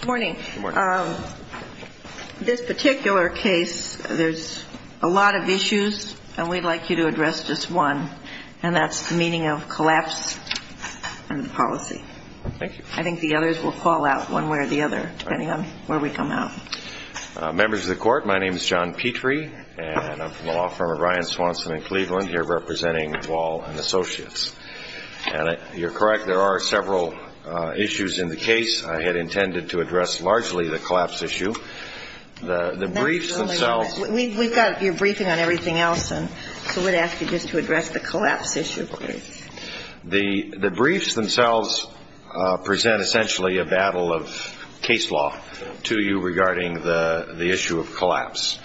Good morning. This particular case, there's a lot of issues, and we'd like you to address just one, and that's the meaning of collapse and policy. I think the others will fall out one way or the other, depending on where we come out. Members of the court, my name is John Petrie, and I'm from the law firm of Ryan, Swanson & Cleveland, here representing Wall & Associates. And you're correct, there are several issues in the case. I had intended to address largely the collapse issue. The briefs themselves... We've got your briefing on everything else, and so we'd ask you just to address the collapse issue, please. The briefs themselves present essentially a battle of case law to you regarding the issue of collapse.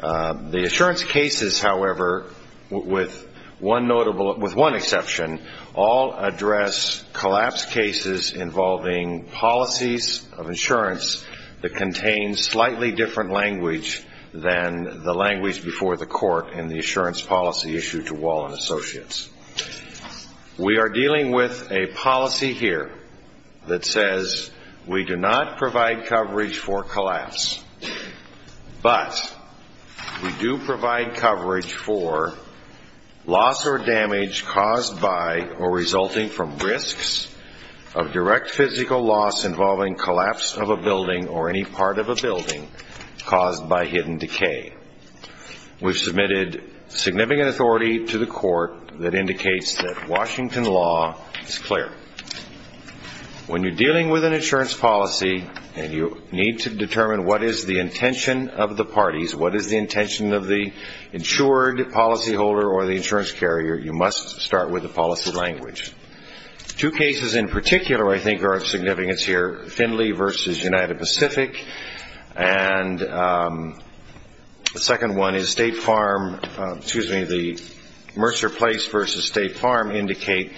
The assurance cases, however, with one exception, all address collapse cases in involving policies of insurance that contain slightly different language than the language before the court in the assurance policy issue to Wall & Associates. We are dealing with a policy here that says we do not provide coverage for collapse, but we do provide coverage for loss or damage caused by or resulting from risks of direct physical loss involving collapse of a building or any part of a building caused by hidden decay. We've submitted significant authority to the court that indicates that Washington law is clear. When you're dealing with an insurance policy and you need to determine what is the intention of the parties, what is the intention of the insured policyholder or the insurance carrier, you must start with the policy language. Two cases in particular, I think, are of significance here, Findlay v. United Pacific, and the second one is Mercer Place v. State Farm, indicate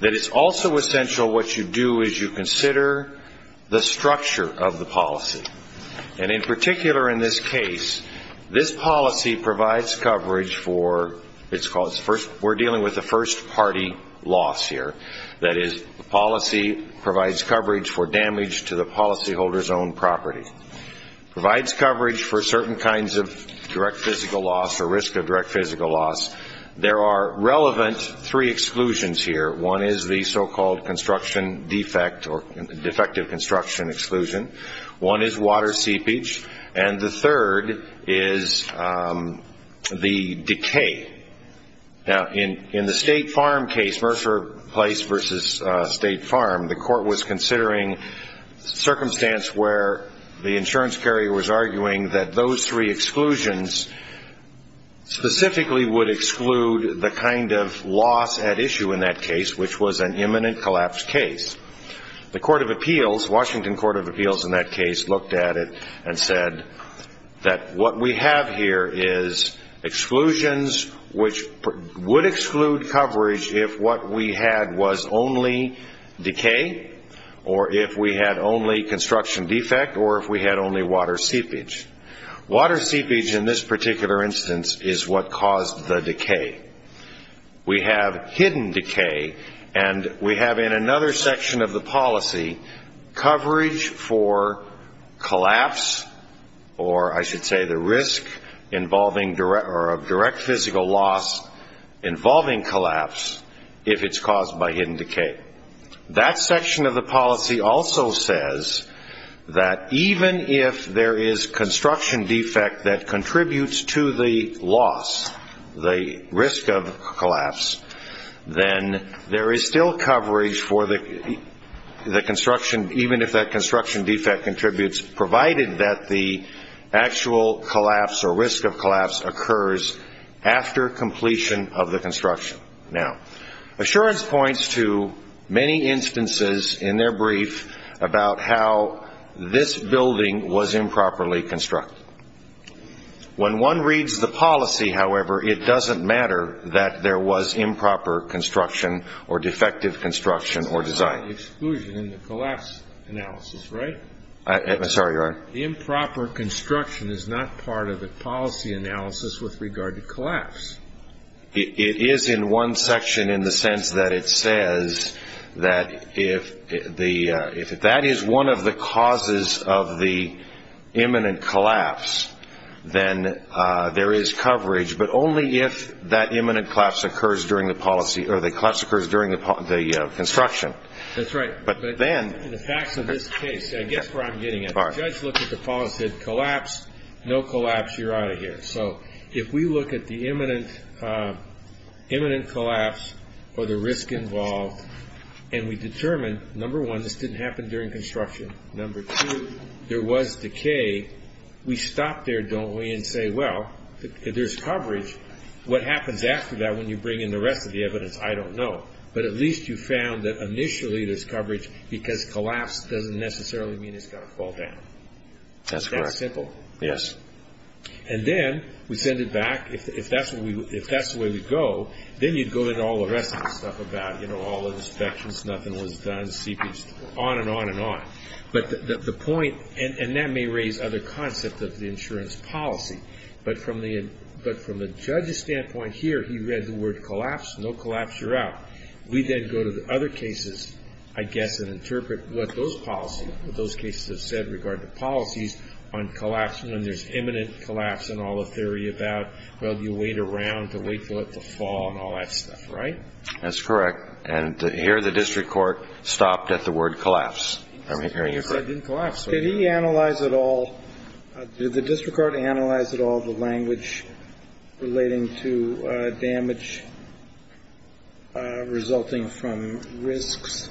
that it's also essential what you do is you consider the structure of the policy. and in particular, in this case, this policy provides coverage for... We're dealing with a first party loss here. That is, the policy provides coverage for the first party loss provides coverage for damage to the policyholder's own property, provides coverage for certain kinds of direct physical loss, or risk of direct physical loss. There are relevant three exclusions here. One is the so-called construction defect, or defective construction exclusion. One is water seepage, and the third is the decay. Now, in the State Farm case, Mercer Place v. State Farm, the court was considering circumstance where the insurance carrier was arguing that those three exclusions specifically would exclude the kind of loss at issue in that case, which was an imminent collapse case. The Court of Appeals, Washington Court of Appeals in that case, looked at it and said that what we have here is exclusions which would exclude coverage if what we had was only decay, or if we had only construction defect, or if we had only water seepage. Water seepage in this particular instance is what caused the decay. We have hidden decay, and we have in another section of the policy coverage for collapse, or I should say the risk of direct physical loss involving collapse, if it's caused by hidden decay. That section of the policy also says that even if there is construction defect that contributes to the loss, the risk of collapse, then there is still coverage for the construction, even if that construction defect contributes, provided that the actual collapse, or risk of collapse, occurs after completion of the construction. Now, assurance points to many instances in their brief about how this building was improperly constructed. When one reads the policy, however, it doesn't matter that there was improper construction or defective construction or design. It's not an exclusion in the collapse analysis, right? I'm sorry, your Honor? Improper construction is not part of the policy analysis with regard to collapse. It is in one section in the sense that it says that if that is one of the causes of the imminent collapse, then there is coverage, but only if that imminent collapse occurs during the construction. That's right, but in the facts of this case, I guess where I'm getting at, the judge looked at the policy and said, collapse, no collapse, you're out of here. So if we look at the imminent collapse or the risk involved, and we determine, number one, this didn't happen during construction, number two, there was decay, we stop there, don't we, and say, well, there's coverage. What happens after that when you bring in the rest of the evidence, I don't know, but at least you found that initially there's coverage because collapse doesn't necessarily mean it's going to fall down. That's correct. That's simple. Yes. And then we send it back. If that's the way we go, then you'd go into all the rest of the stuff about all the inspections, nothing was done, on and on and on. But the point, and that may raise other concepts of the insurance policy, but from the judge's standpoint here, he read the word collapse, no collapse, you're out. We then go to the other cases, I guess, and interpret what those policies, what those cases have said regarding the policies on collapse, when there's imminent collapse and all the theory about, well, you wait around to wait for it to fall and all that stuff. Right? That's correct. And here the district court stopped at the word collapse. That didn't collapse. Did he analyze at all, did the district court analyze at all the language relating to damage resulting from risks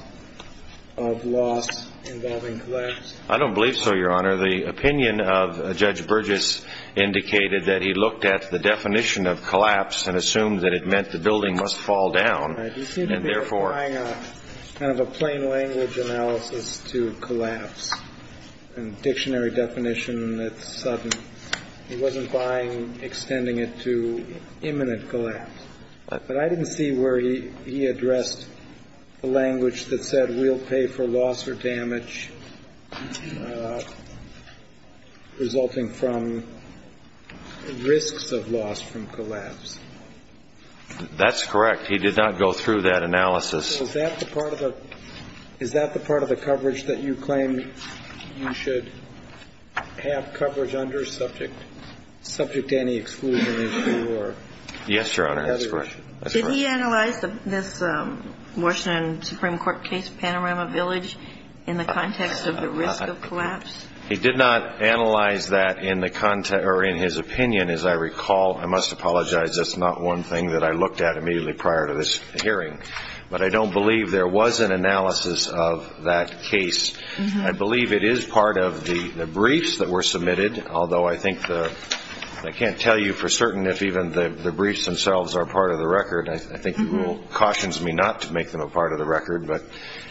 of loss involving collapse? I don't believe so, Your Honor. The opinion of Judge Burgess indicated that he looked at the definition of collapse and assumed that it meant the building must fall down. Right. He seemed to be applying kind of a plain language analysis to collapse and dictionary definition that's sudden. He wasn't buying extending it to imminent collapse. But I didn't see where he addressed the language that said we'll pay for loss or damage resulting from risks of loss from collapse. That's correct. He did not go through that analysis. So is that the part of the coverage that you claim you should have coverage under subject to any exclusion? Yes, Your Honor. That's correct. Did he analyze this Washington Supreme Court case, Panorama Village, in the context of the risk of collapse? He did not analyze that in the context or in his opinion, as I recall. I must apologize. That's not one thing that I looked at immediately prior to this hearing. But I don't believe there was an analysis of that case. I believe it is part of the briefs that were submitted. Although I can't tell you for certain if even the briefs themselves are part of the record. I think the rule cautions me not to make them a part of the record. But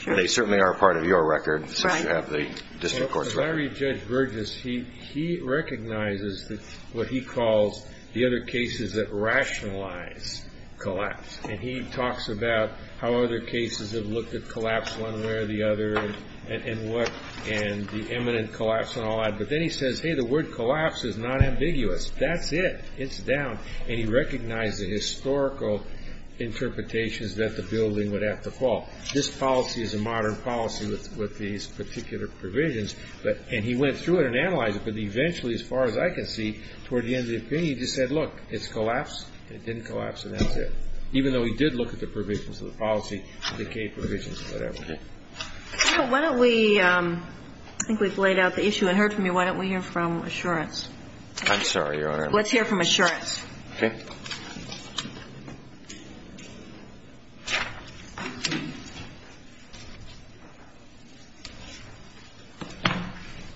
they certainly are a part of your record since you have the district court's record. As I read Judge Burgess, he recognizes what he calls the other cases that rationalize collapse. And he talks about how other cases have looked at collapse one way or the other and the imminent collapse and all that. But then he says, hey, the word collapse is not ambiguous. That's it. It's down. And he recognized the historical interpretations that the building would have to fall. This policy is a modern policy with these particular provisions. And he went through it and analyzed it. But eventually, as far as I can see, toward the end of the opinion, he just said, look, it's collapsed, it didn't collapse, and that's it. Even though he did look at the provisions of the policy, the decay provisions, whatever. Okay. Why don't we ‑‑ I think we've laid out the issue and heard from you. Why don't we hear from Assurance? I'm sorry, Your Honor. Let's hear from Assurance. Okay.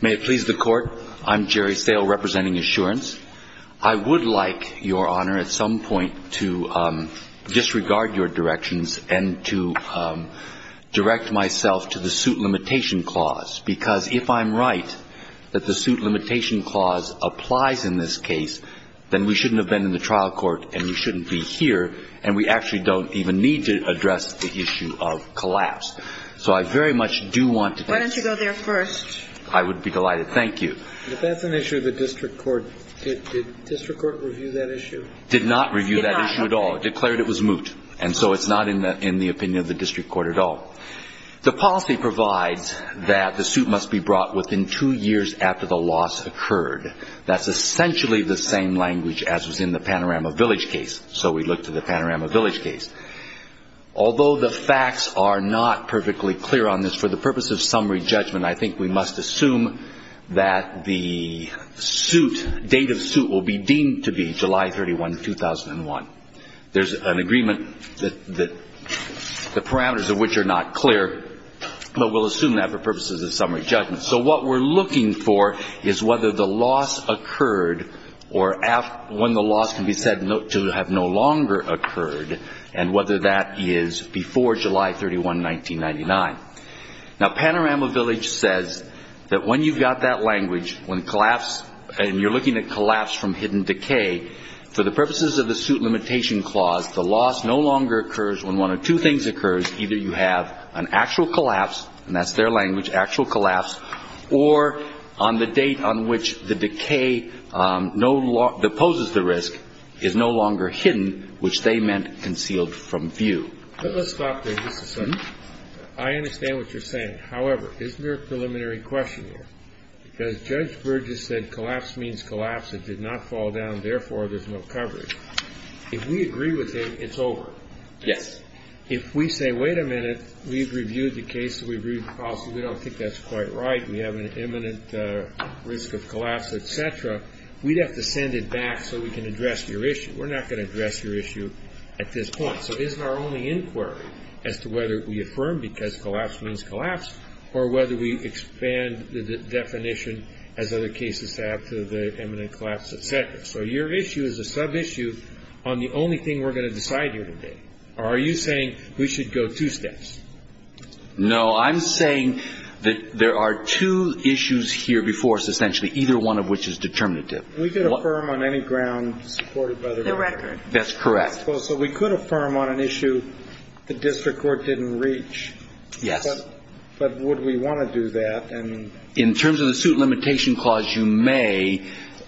May it please the Court. I'm Jerry Stahel representing Assurance. I would like, Your Honor, at some point to disregard your directions and to direct myself to the suit limitation clause, because if I'm right that the suit limitation clause applies in this case, then we shouldn't have been in the trial court and we shouldn't be here, and we actually don't even need to address the issue of collapse. So I very much do want to thank you. Why don't you go there first? I would be delighted. Thank you. But that's an issue of the district court. Did district court review that issue? Did not review that issue at all. Declared it was moot. And so it's not in the opinion of the district court at all. The policy provides that the suit must be brought within two years after the loss occurred. That's essentially the same language as was in the Panorama Village case. So we look to the Panorama Village case. Although the facts are not perfectly clear on this, for the purpose of summary judgment, I think we must assume that the suit, date of suit will be deemed to be July 31, 2001. There's an agreement that the parameters of which are not clear, but we'll assume that for purposes of summary judgment. So what we're looking for is whether the loss occurred or when the loss can be said to have no longer occurred and whether that is before July 31, 1999. Now, Panorama Village says that when you've got that language, when collapse and you're looking at collapse from hidden decay, for the purposes of the suit limitation clause, the loss no longer occurs when one of two things occurs. Either you have an actual collapse, and that's their language, actual collapse, or on the date on which the decay that poses the risk is no longer hidden, which they meant concealed from view. Let's stop there just a second. I understand what you're saying. However, isn't there a preliminary question here? Because Judge Burgess said collapse means collapse. It did not fall down. Therefore, there's no coverage. If we agree with it, it's over. Yes. If we say, wait a minute. We've reviewed the case. We've reviewed the policy. We don't think that's quite right. We have an imminent risk of collapse, et cetera. We'd have to send it back so we can address your issue. We're not going to address your issue at this point. So isn't our only inquiry as to whether we affirm because collapse means collapse or whether we expand the definition, as other cases have, to the imminent collapse, et cetera. So your issue is a sub-issue on the only thing we're going to decide here today. Are you saying we should go two steps? No. I'm saying that there are two issues here before us, essentially, either one of which is determinative. We could affirm on any ground supported by the record. That's correct. So we could affirm on an issue the district court didn't reach. Yes. But would we want to do that? In terms of the suit limitation clause, you may.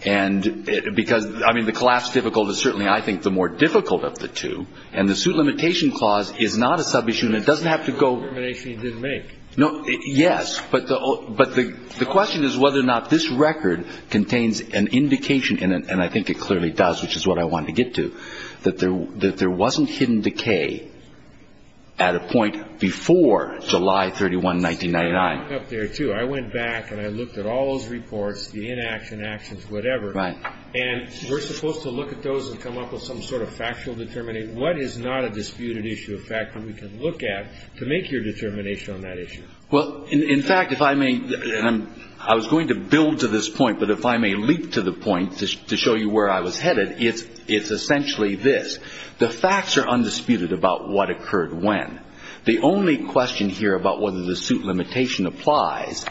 And because, I mean, the collapse difficult is certainly, I think, the more difficult of the two. And the suit limitation clause is not a sub-issue. And it doesn't have to go. No determination you didn't make. No. Yes. But the question is whether or not this record contains an indication, and I think it clearly does, which is what I wanted to get to, that there wasn't hidden decay at a point before July 31, 1999. I went back and I looked at all those reports, the inaction actions, whatever. Right. And we're supposed to look at those and come up with some sort of factual determination. What is not a disputed issue of fact that we can look at to make your determination on that issue? Well, in fact, if I may, and I was going to build to this point, but if I may leap to the point to show you where I was headed, it's essentially this. The facts are undisputed about what occurred when. The only question here about whether the suit limitation applies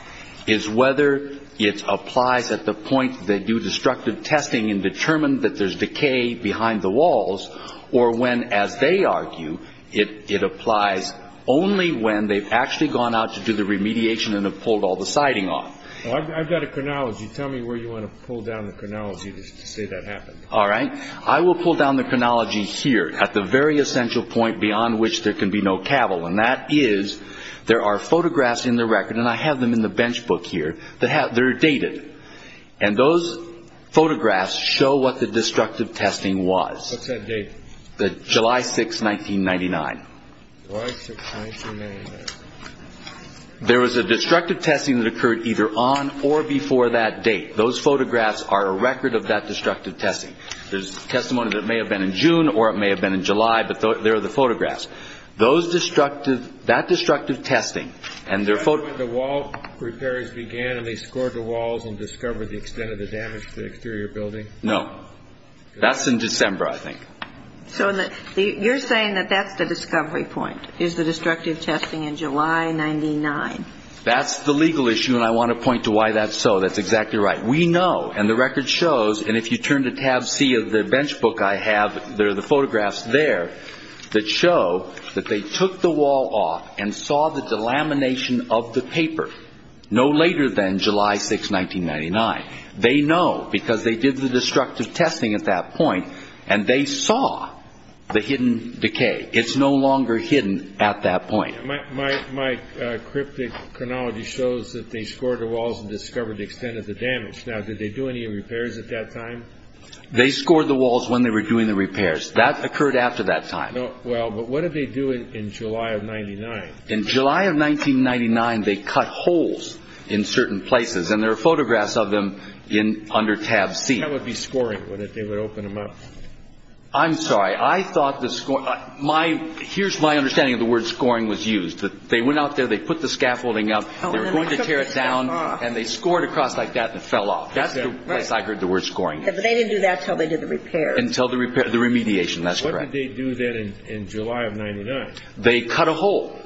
is whether it applies at the point that they do destructive testing and determine that there's decay behind the walls or when, as they argue, it applies only when they've actually gone out to do the remediation and have pulled all the siding off. I've got a chronology. Tell me where you want to pull down the chronology to say that happened. All right. I will pull down the chronology here at the very essential point beyond which there can be no cavil, and that is there are photographs in the record, and I have them in the bench book here. They're dated, and those photographs show what the destructive testing was. What's that date? July 6, 1999. July 6, 1999. There was a destructive testing that occurred either on or before that date. Those photographs are a record of that destructive testing. There's testimony that it may have been in June or it may have been in July, but there are the photographs. Those destructive – that destructive testing and their – Is that when the wall repairs began and they scored the walls and discovered the extent of the damage to the exterior building? No. That's in December, I think. So you're saying that that's the discovery point is the destructive testing in July 99. That's the legal issue, and I want to point to why that's so. That's exactly right. We know, and the record shows, and if you turn to tab C of the bench book I have, there are the photographs there that show that they took the wall off and saw the delamination of the paper no later than July 6, 1999. They know because they did the destructive testing at that point, and they saw the hidden decay. It's no longer hidden at that point. My cryptic chronology shows that they scored the walls and discovered the extent of the damage. Now, did they do any repairs at that time? They scored the walls when they were doing the repairs. That occurred after that time. Well, but what did they do in July of 99? In July of 1999, they cut holes in certain places, and there are photographs of them under tab C. That would be scoring, would it? They would open them up. I'm sorry. I thought the score ñ here's my understanding of the word scoring was used. They went out there, they put the scaffolding up, they were going to tear it down, and they scored across like that and it fell off. That's the place I heard the word scoring. But they didn't do that until they did the repairs. Until the repair ñ the remediation. That's correct. What did they do then in July of 99? They cut a hole.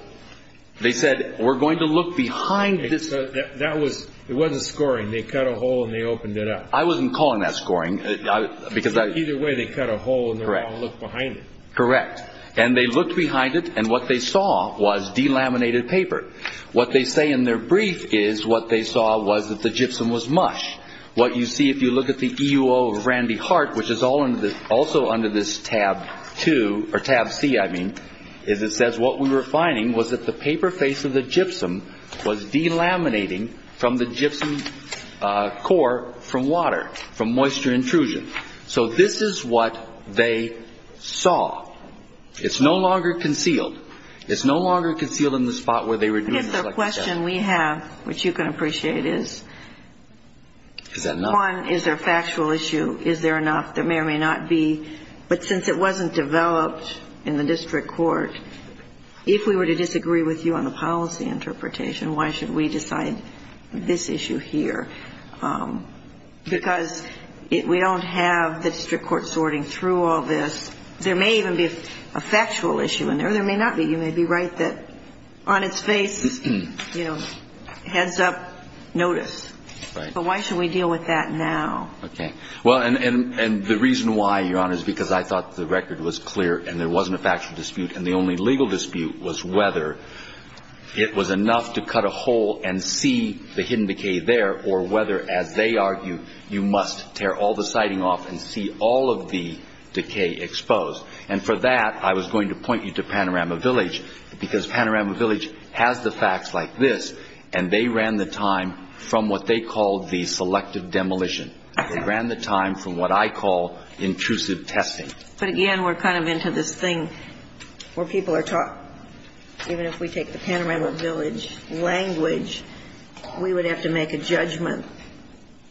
They said, we're going to look behind this. That was ñ it wasn't scoring. They cut a hole and they opened it up. I wasn't calling that scoring because I ñ Either way, they cut a hole and they're going to look behind it. Correct. And they looked behind it, and what they saw was delaminated paper. What they say in their brief is what they saw was that the gypsum was mush. What you see if you look at the E.U.O. of Randy Hart, which is also under this tab 2 ñ or tab C, I mean, is it says what we were finding was that the paper face of the gypsum was delaminating from the gypsum core from water, from moisture intrusion. So this is what they saw. It's no longer concealed. It's no longer concealed in the spot where they were doing the selection test. I guess the question we have, which you can appreciate, is ñ Is that enough? One, is there a factual issue? Is there enough? There may or may not be. But since it wasn't developed in the district court, if we were to disagree with you on the policy interpretation, why should we decide this issue here? Because we don't have the district court sorting through all this. There may even be a factual issue in there. There may not be. You may be right that on its face, you know, heads up, notice. Right. But why should we deal with that now? Okay. Well, and the reason why, Your Honor, is because I thought the record was clear and there wasn't a factual dispute, and the only legal dispute was whether it was enough to cut a hole and see the hidden decay there or whether, as they argue, you must tear all the siding off and see all of the decay exposed. And for that, I was going to point you to Panorama Village because Panorama Village has the facts like this, and they ran the time from what they called the selective demolition. They ran the time from what I call intrusive testing. But, again, we're kind of into this thing where people are taught, even if we take the Panorama Village language, we would have to make a judgment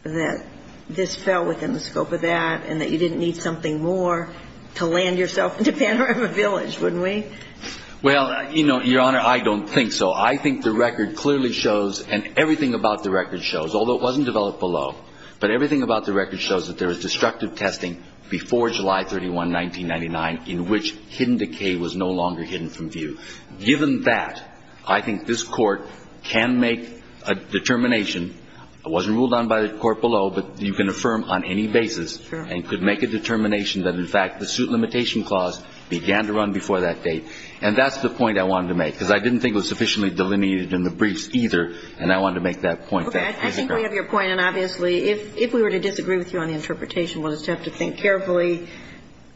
that this fell within the scope of that and that you didn't need something more to land yourself into Panorama Village, wouldn't we? Well, you know, Your Honor, I don't think so. I think the record clearly shows, and everything about the record shows, although it wasn't developed below, but everything about the record shows that there was destructive testing before July 31, 1999, in which hidden decay was no longer hidden from view. Given that, I think this Court can make a determination. It wasn't ruled on by the Court below, but you can affirm on any basis and could make a determination that, in fact, the suit limitation clause began to run before that date. And that's the point I wanted to make, because I didn't think it was sufficiently delineated in the briefs either, and I wanted to make that point. Okay. I think we have your point. And obviously, if we were to disagree with you on the interpretation, we'll just have to think carefully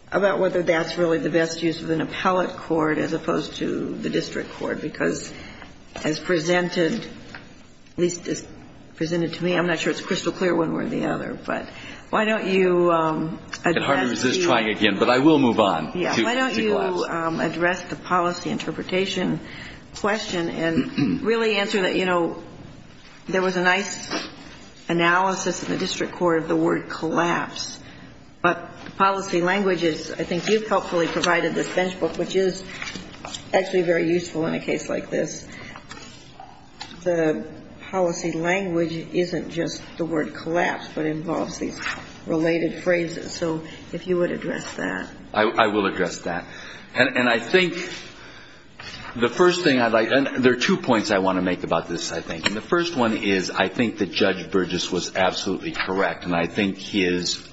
about whether that's really the best use of an appellate court as opposed to the district court, because as presented, at least as presented to me, I'm not sure it's crystal clear one way or the other. But why don't you address the – I can hardly resist trying again, but I will move on. Yeah. Why don't you address the policy interpretation question and really answer that, you know, there was a nice analysis in the district court of the word collapse. But policy language is – I think you've helpfully provided this benchmark, which is actually very useful in a case like this. The policy language isn't just the word collapse, but involves these related phrases. So if you would address that. I will address that. And I think the first thing I'd like – and there are two points I want to make about this, I think. And the first one is I think that Judge Burgess was absolutely correct, and I think his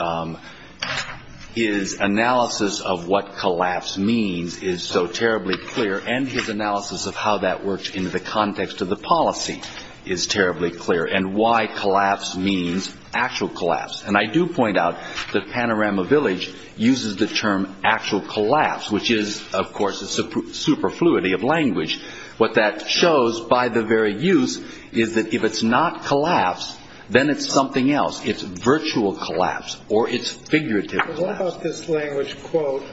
analysis of what collapse means is so terribly clear, and his analysis of how that works in the context of the policy is terribly clear, and why collapse means actual collapse. And I do point out that Panorama Village uses the term actual collapse, which is, of course, a superfluity of language. What that shows by the very use is that if it's not collapse, then it's something else. It's virtual collapse or it's figurative collapse. But what about this language, quote,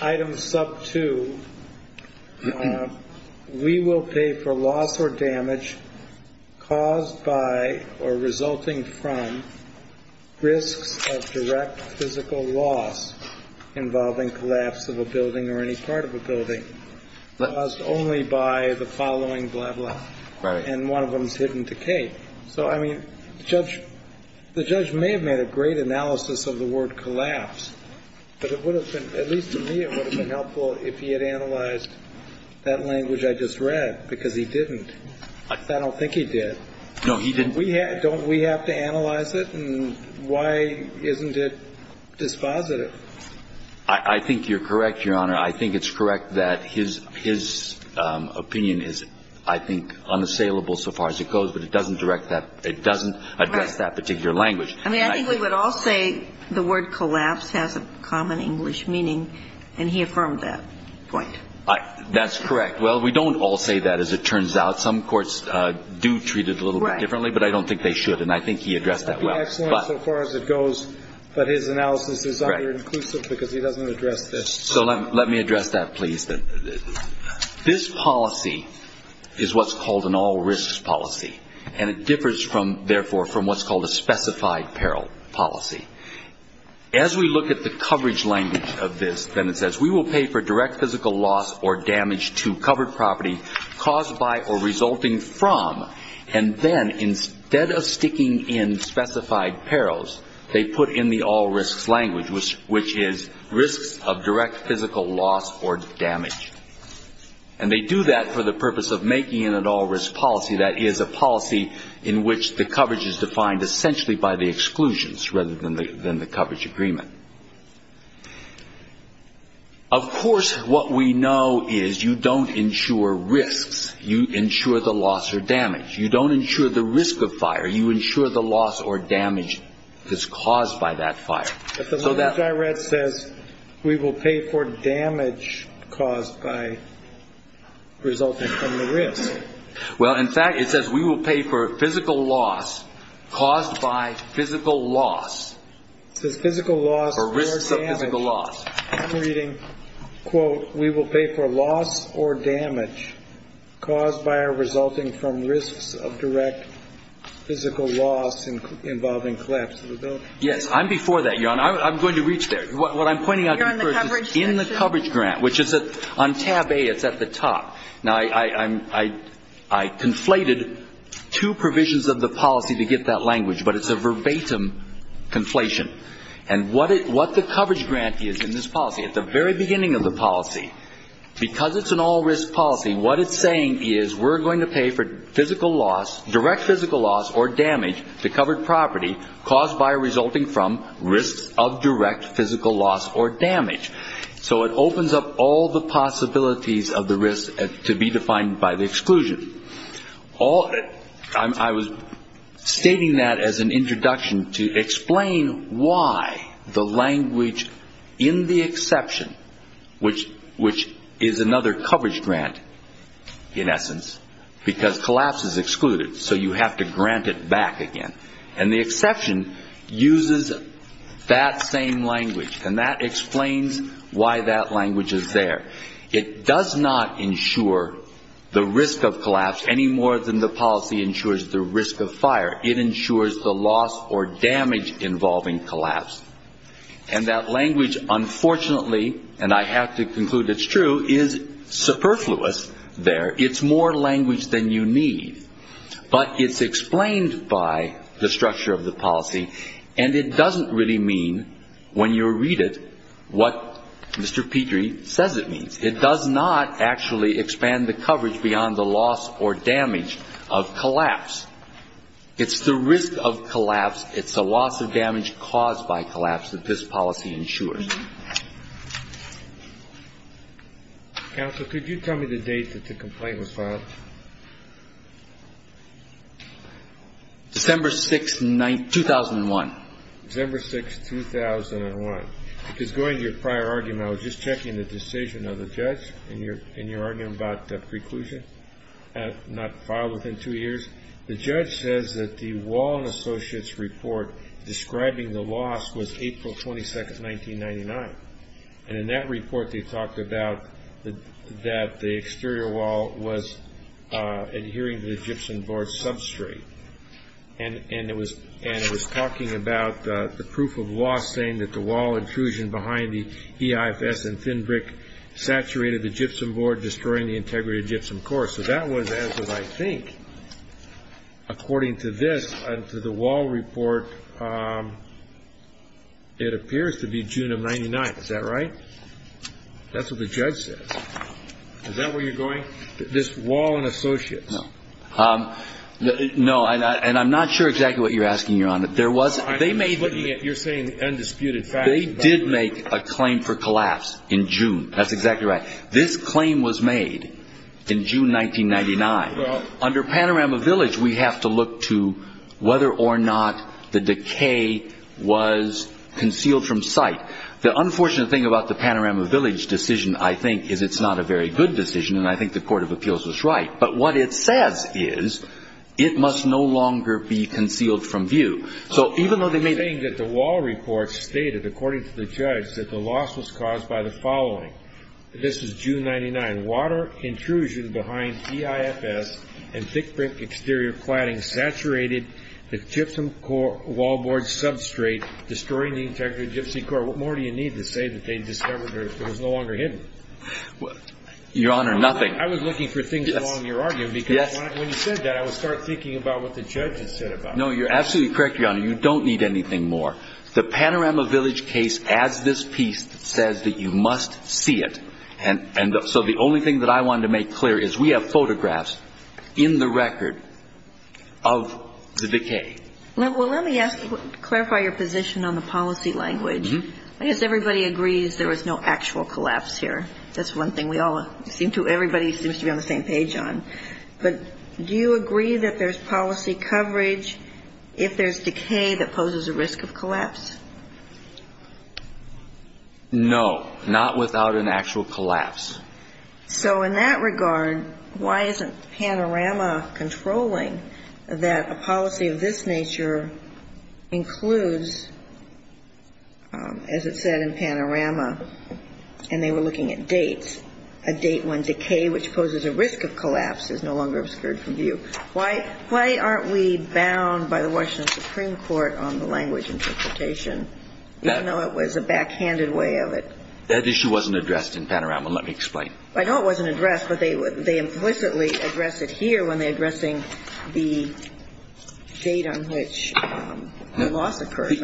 item sub two, we will pay for loss or damage caused by or resulting from risks of direct physical loss involving collapse of a building or any part of a building caused only by the following blah, blah. Right. And one of them is hidden decay. So, I mean, the judge may have made a great analysis of the word collapse, but it would have been, at least to me, it would have been helpful if he had analyzed that language I just read, because he didn't. I don't think he did. No, he didn't. Don't we have to analyze it, and why isn't it dispositive? I think you're correct, Your Honor. I think it's correct that his opinion is, I think, unassailable so far as it goes, but it doesn't direct that, it doesn't address that particular language. I mean, I think we would all say the word collapse has a common English meaning, and he affirmed that point. That's correct. Well, we don't all say that, as it turns out. Some courts do treat it a little bit differently, but I don't think they should, and I think he addressed that well. Excellent so far as it goes, but his analysis is under-inclusive because he doesn't address this. So let me address that, please. This policy is what's called an all-risks policy, and it differs, therefore, from what's called a specified peril policy. As we look at the coverage language of this, then it says, we will pay for direct physical loss or damage to covered property caused by or resulting from, and then instead of sticking in specified perils, they put in the all-risks language, which is risks of direct physical loss or damage. And they do that for the purpose of making it an all-risks policy. That is a policy in which the coverage is defined essentially by the exclusions rather than the coverage agreement. Of course, what we know is you don't insure risks. You insure the loss or damage. You don't insure the risk of fire. You insure the loss or damage that's caused by that fire. But the language I read says, we will pay for damage caused by resulting from the risk. Well, in fact, it says, we will pay for physical loss caused by physical loss. It says physical loss or damage. Or risks of physical loss. I'm reading, quote, we will pay for loss or damage caused by or resulting from risks of direct physical loss involving collapse of a building. Yes. I'm before that, Your Honor. I'm going to reach there. What I'm pointing out to you first is in the coverage grant, which is on tab A. It's at the top. Now, I conflated two provisions of the policy to get that language, but it's a verbatim conflation. And what the coverage grant is in this policy, at the very beginning of the policy, because it's an all-risk policy, what it's saying is we're going to pay for physical loss, direct physical loss or damage to covered property caused by or resulting from risks of direct physical loss or damage. So it opens up all the possibilities of the risk to be defined by the exclusion. I was stating that as an introduction to explain why the language in the exception, which is another coverage grant, in essence, because collapse is excluded. So you have to grant it back again. And the exception uses that same language, and that explains why that language is there. It does not ensure the risk of collapse any more than the policy ensures the risk of fire. It ensures the loss or damage involving collapse. And that language, unfortunately, and I have to conclude it's true, is superfluous there. It's more language than you need. But it's explained by the structure of the policy, and it doesn't really mean when you read it what Mr. Petrie says it means. It does not actually expand the coverage beyond the loss or damage of collapse. It's the risk of collapse. It's the loss of damage caused by collapse that this policy ensures. Counsel, could you tell me the date that the complaint was filed? December 6, 2001. December 6, 2001. Because going to your prior argument, I was just checking the decision of the judge in your argument about preclusion, not filed within two years. The judge says that the Wall and Associates report describing the loss was April 22, 1999. And in that report they talked about that the exterior wall was adhering to the gypsum board substrate. And it was talking about the proof of loss saying that the wall intrusion behind the EIFS and thin brick saturated the gypsum board, destroying the integrity of gypsum core. So that was, as I think, according to this and to the Wall report, it appears to be June of 1999. Is that right? That's what the judge said. Is that where you're going? This Wall and Associates? No. No, and I'm not sure exactly what you're asking, Your Honor. I'm just looking at you're saying the undisputed facts. They did make a claim for collapse in June. That's exactly right. This claim was made in June 1999. Under Panorama Village, we have to look to whether or not the decay was concealed from sight. The unfortunate thing about the Panorama Village decision, I think, is it's not a very good decision, and I think the court of appeals was right. But what it says is it must no longer be concealed from view. So even though they made the claim that the Wall report stated, according to the judge, that the loss was caused by the following. This is June 1999. Water intrusion behind EIFS and thick brick exterior cladding saturated the gypsum core wall board substrate, destroying the integrity of the gypsy core. What more do you need to say that they discovered it was no longer hidden? Your Honor, nothing. I was looking for things along your argument because when you said that, I would start thinking about what the judge had said about it. No, you're absolutely correct, Your Honor. You don't need anything more. The Panorama Village case adds this piece that says that you must see it. And so the only thing that I wanted to make clear is we have photographs in the record of the decay. Well, let me ask, clarify your position on the policy language. I guess everybody agrees there was no actual collapse here. That's one thing we all seem to, everybody seems to be on the same page on. But do you agree that there's policy coverage if there's decay that poses a risk of collapse? No, not without an actual collapse. So in that regard, why isn't Panorama controlling that a policy of this nature includes, as it said in Panorama, and they were looking at dates, a date when decay, which poses a risk of collapse, is no longer obscured from view? Why aren't we bound by the Washington Supreme Court on the language interpretation, even though it was a backhanded way of it? That issue wasn't addressed in Panorama. Let me explain. I know it wasn't addressed, but they implicitly address it here when they're addressing the date on which the loss occurred.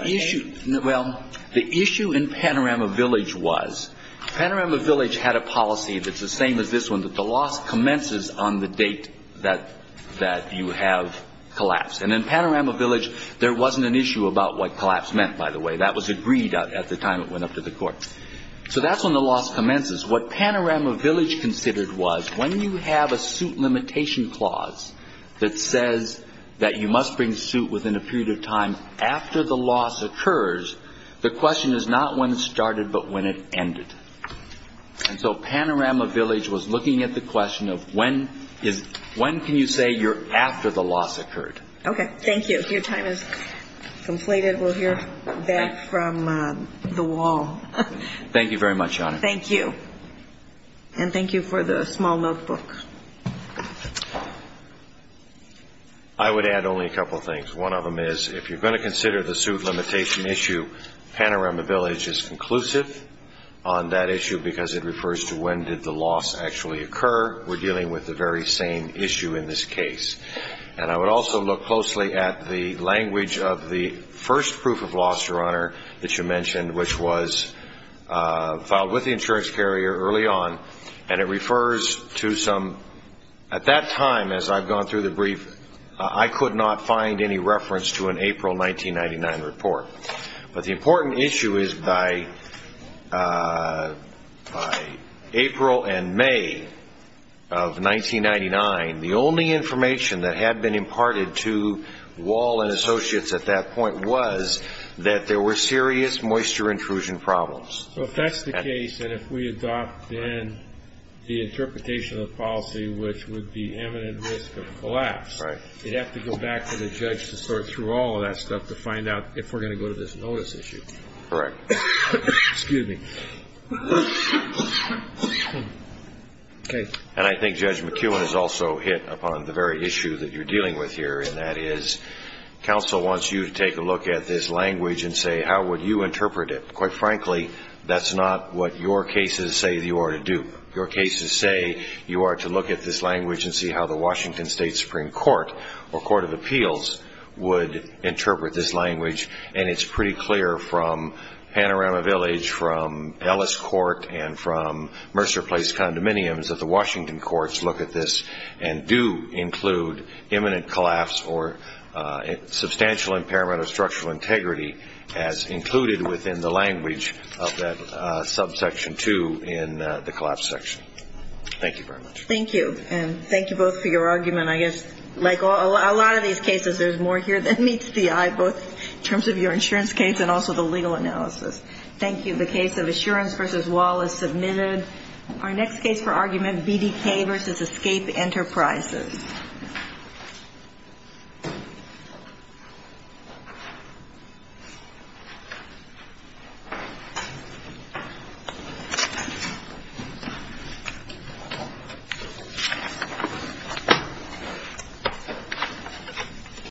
Well, the issue in Panorama Village was, Panorama Village had a policy that's the same as this one, that the loss commences on the date that you have collapse. And in Panorama Village, there wasn't an issue about what collapse meant, by the way. That was agreed at the time it went up to the court. So that's when the loss commences. What Panorama Village considered was, when you have a suit limitation clause that says that you must bring suit within a period of time after the loss occurs, the question is not when it started, but when it ended. And so Panorama Village was looking at the question of when can you say you're after the loss occurred. Okay. Thank you. Your time is completed. Thank you very much, Your Honor. Thank you. And thank you for the small notebook. I would add only a couple things. One of them is, if you're going to consider the suit limitation issue, Panorama Village is conclusive on that issue because it refers to when did the loss actually occur. We're dealing with the very same issue in this case. And I would also look closely at the language of the first proof of loss, Your Honor, that you mentioned, which was filed with the insurance carrier early on. And it refers to some – at that time, as I've gone through the brief, I could not find any reference to an April 1999 report. But the important issue is, by April and May of 1999, the only information that had been imparted to Wall and Associates at that point was that there were serious moisture intrusion problems. So if that's the case, and if we adopt then the interpretation of the policy, which would be imminent risk of collapse, you'd have to go back to the judge to sort through all of that stuff to find out if we're going to go to this notice issue. Correct. Excuse me. Okay. And I think Judge McKeown has also hit upon the very issue that you're dealing with here, and that is counsel wants you to take a look at this language and say how would you interpret it. Quite frankly, that's not what your cases say you ought to do. Your cases say you ought to look at this language and see how the Washington State Supreme Court or Court of Appeals would interpret this language. And it's pretty clear from Panorama Village, from Ellis Court, and from Mercer Place Condominiums that the Washington courts look at this and do include imminent collapse or substantial impairment of structural integrity as included within the language of that subsection 2 in the collapse section. Thank you very much. Thank you. And thank you both for your argument. I guess like a lot of these cases, there's more here than meets the eye, both in terms of your insurance case and also the legal analysis. Thank you. The case of Assurance v. Wallace submitted. Our next case for argument, BDK v. Escape Enterprises. Thank you.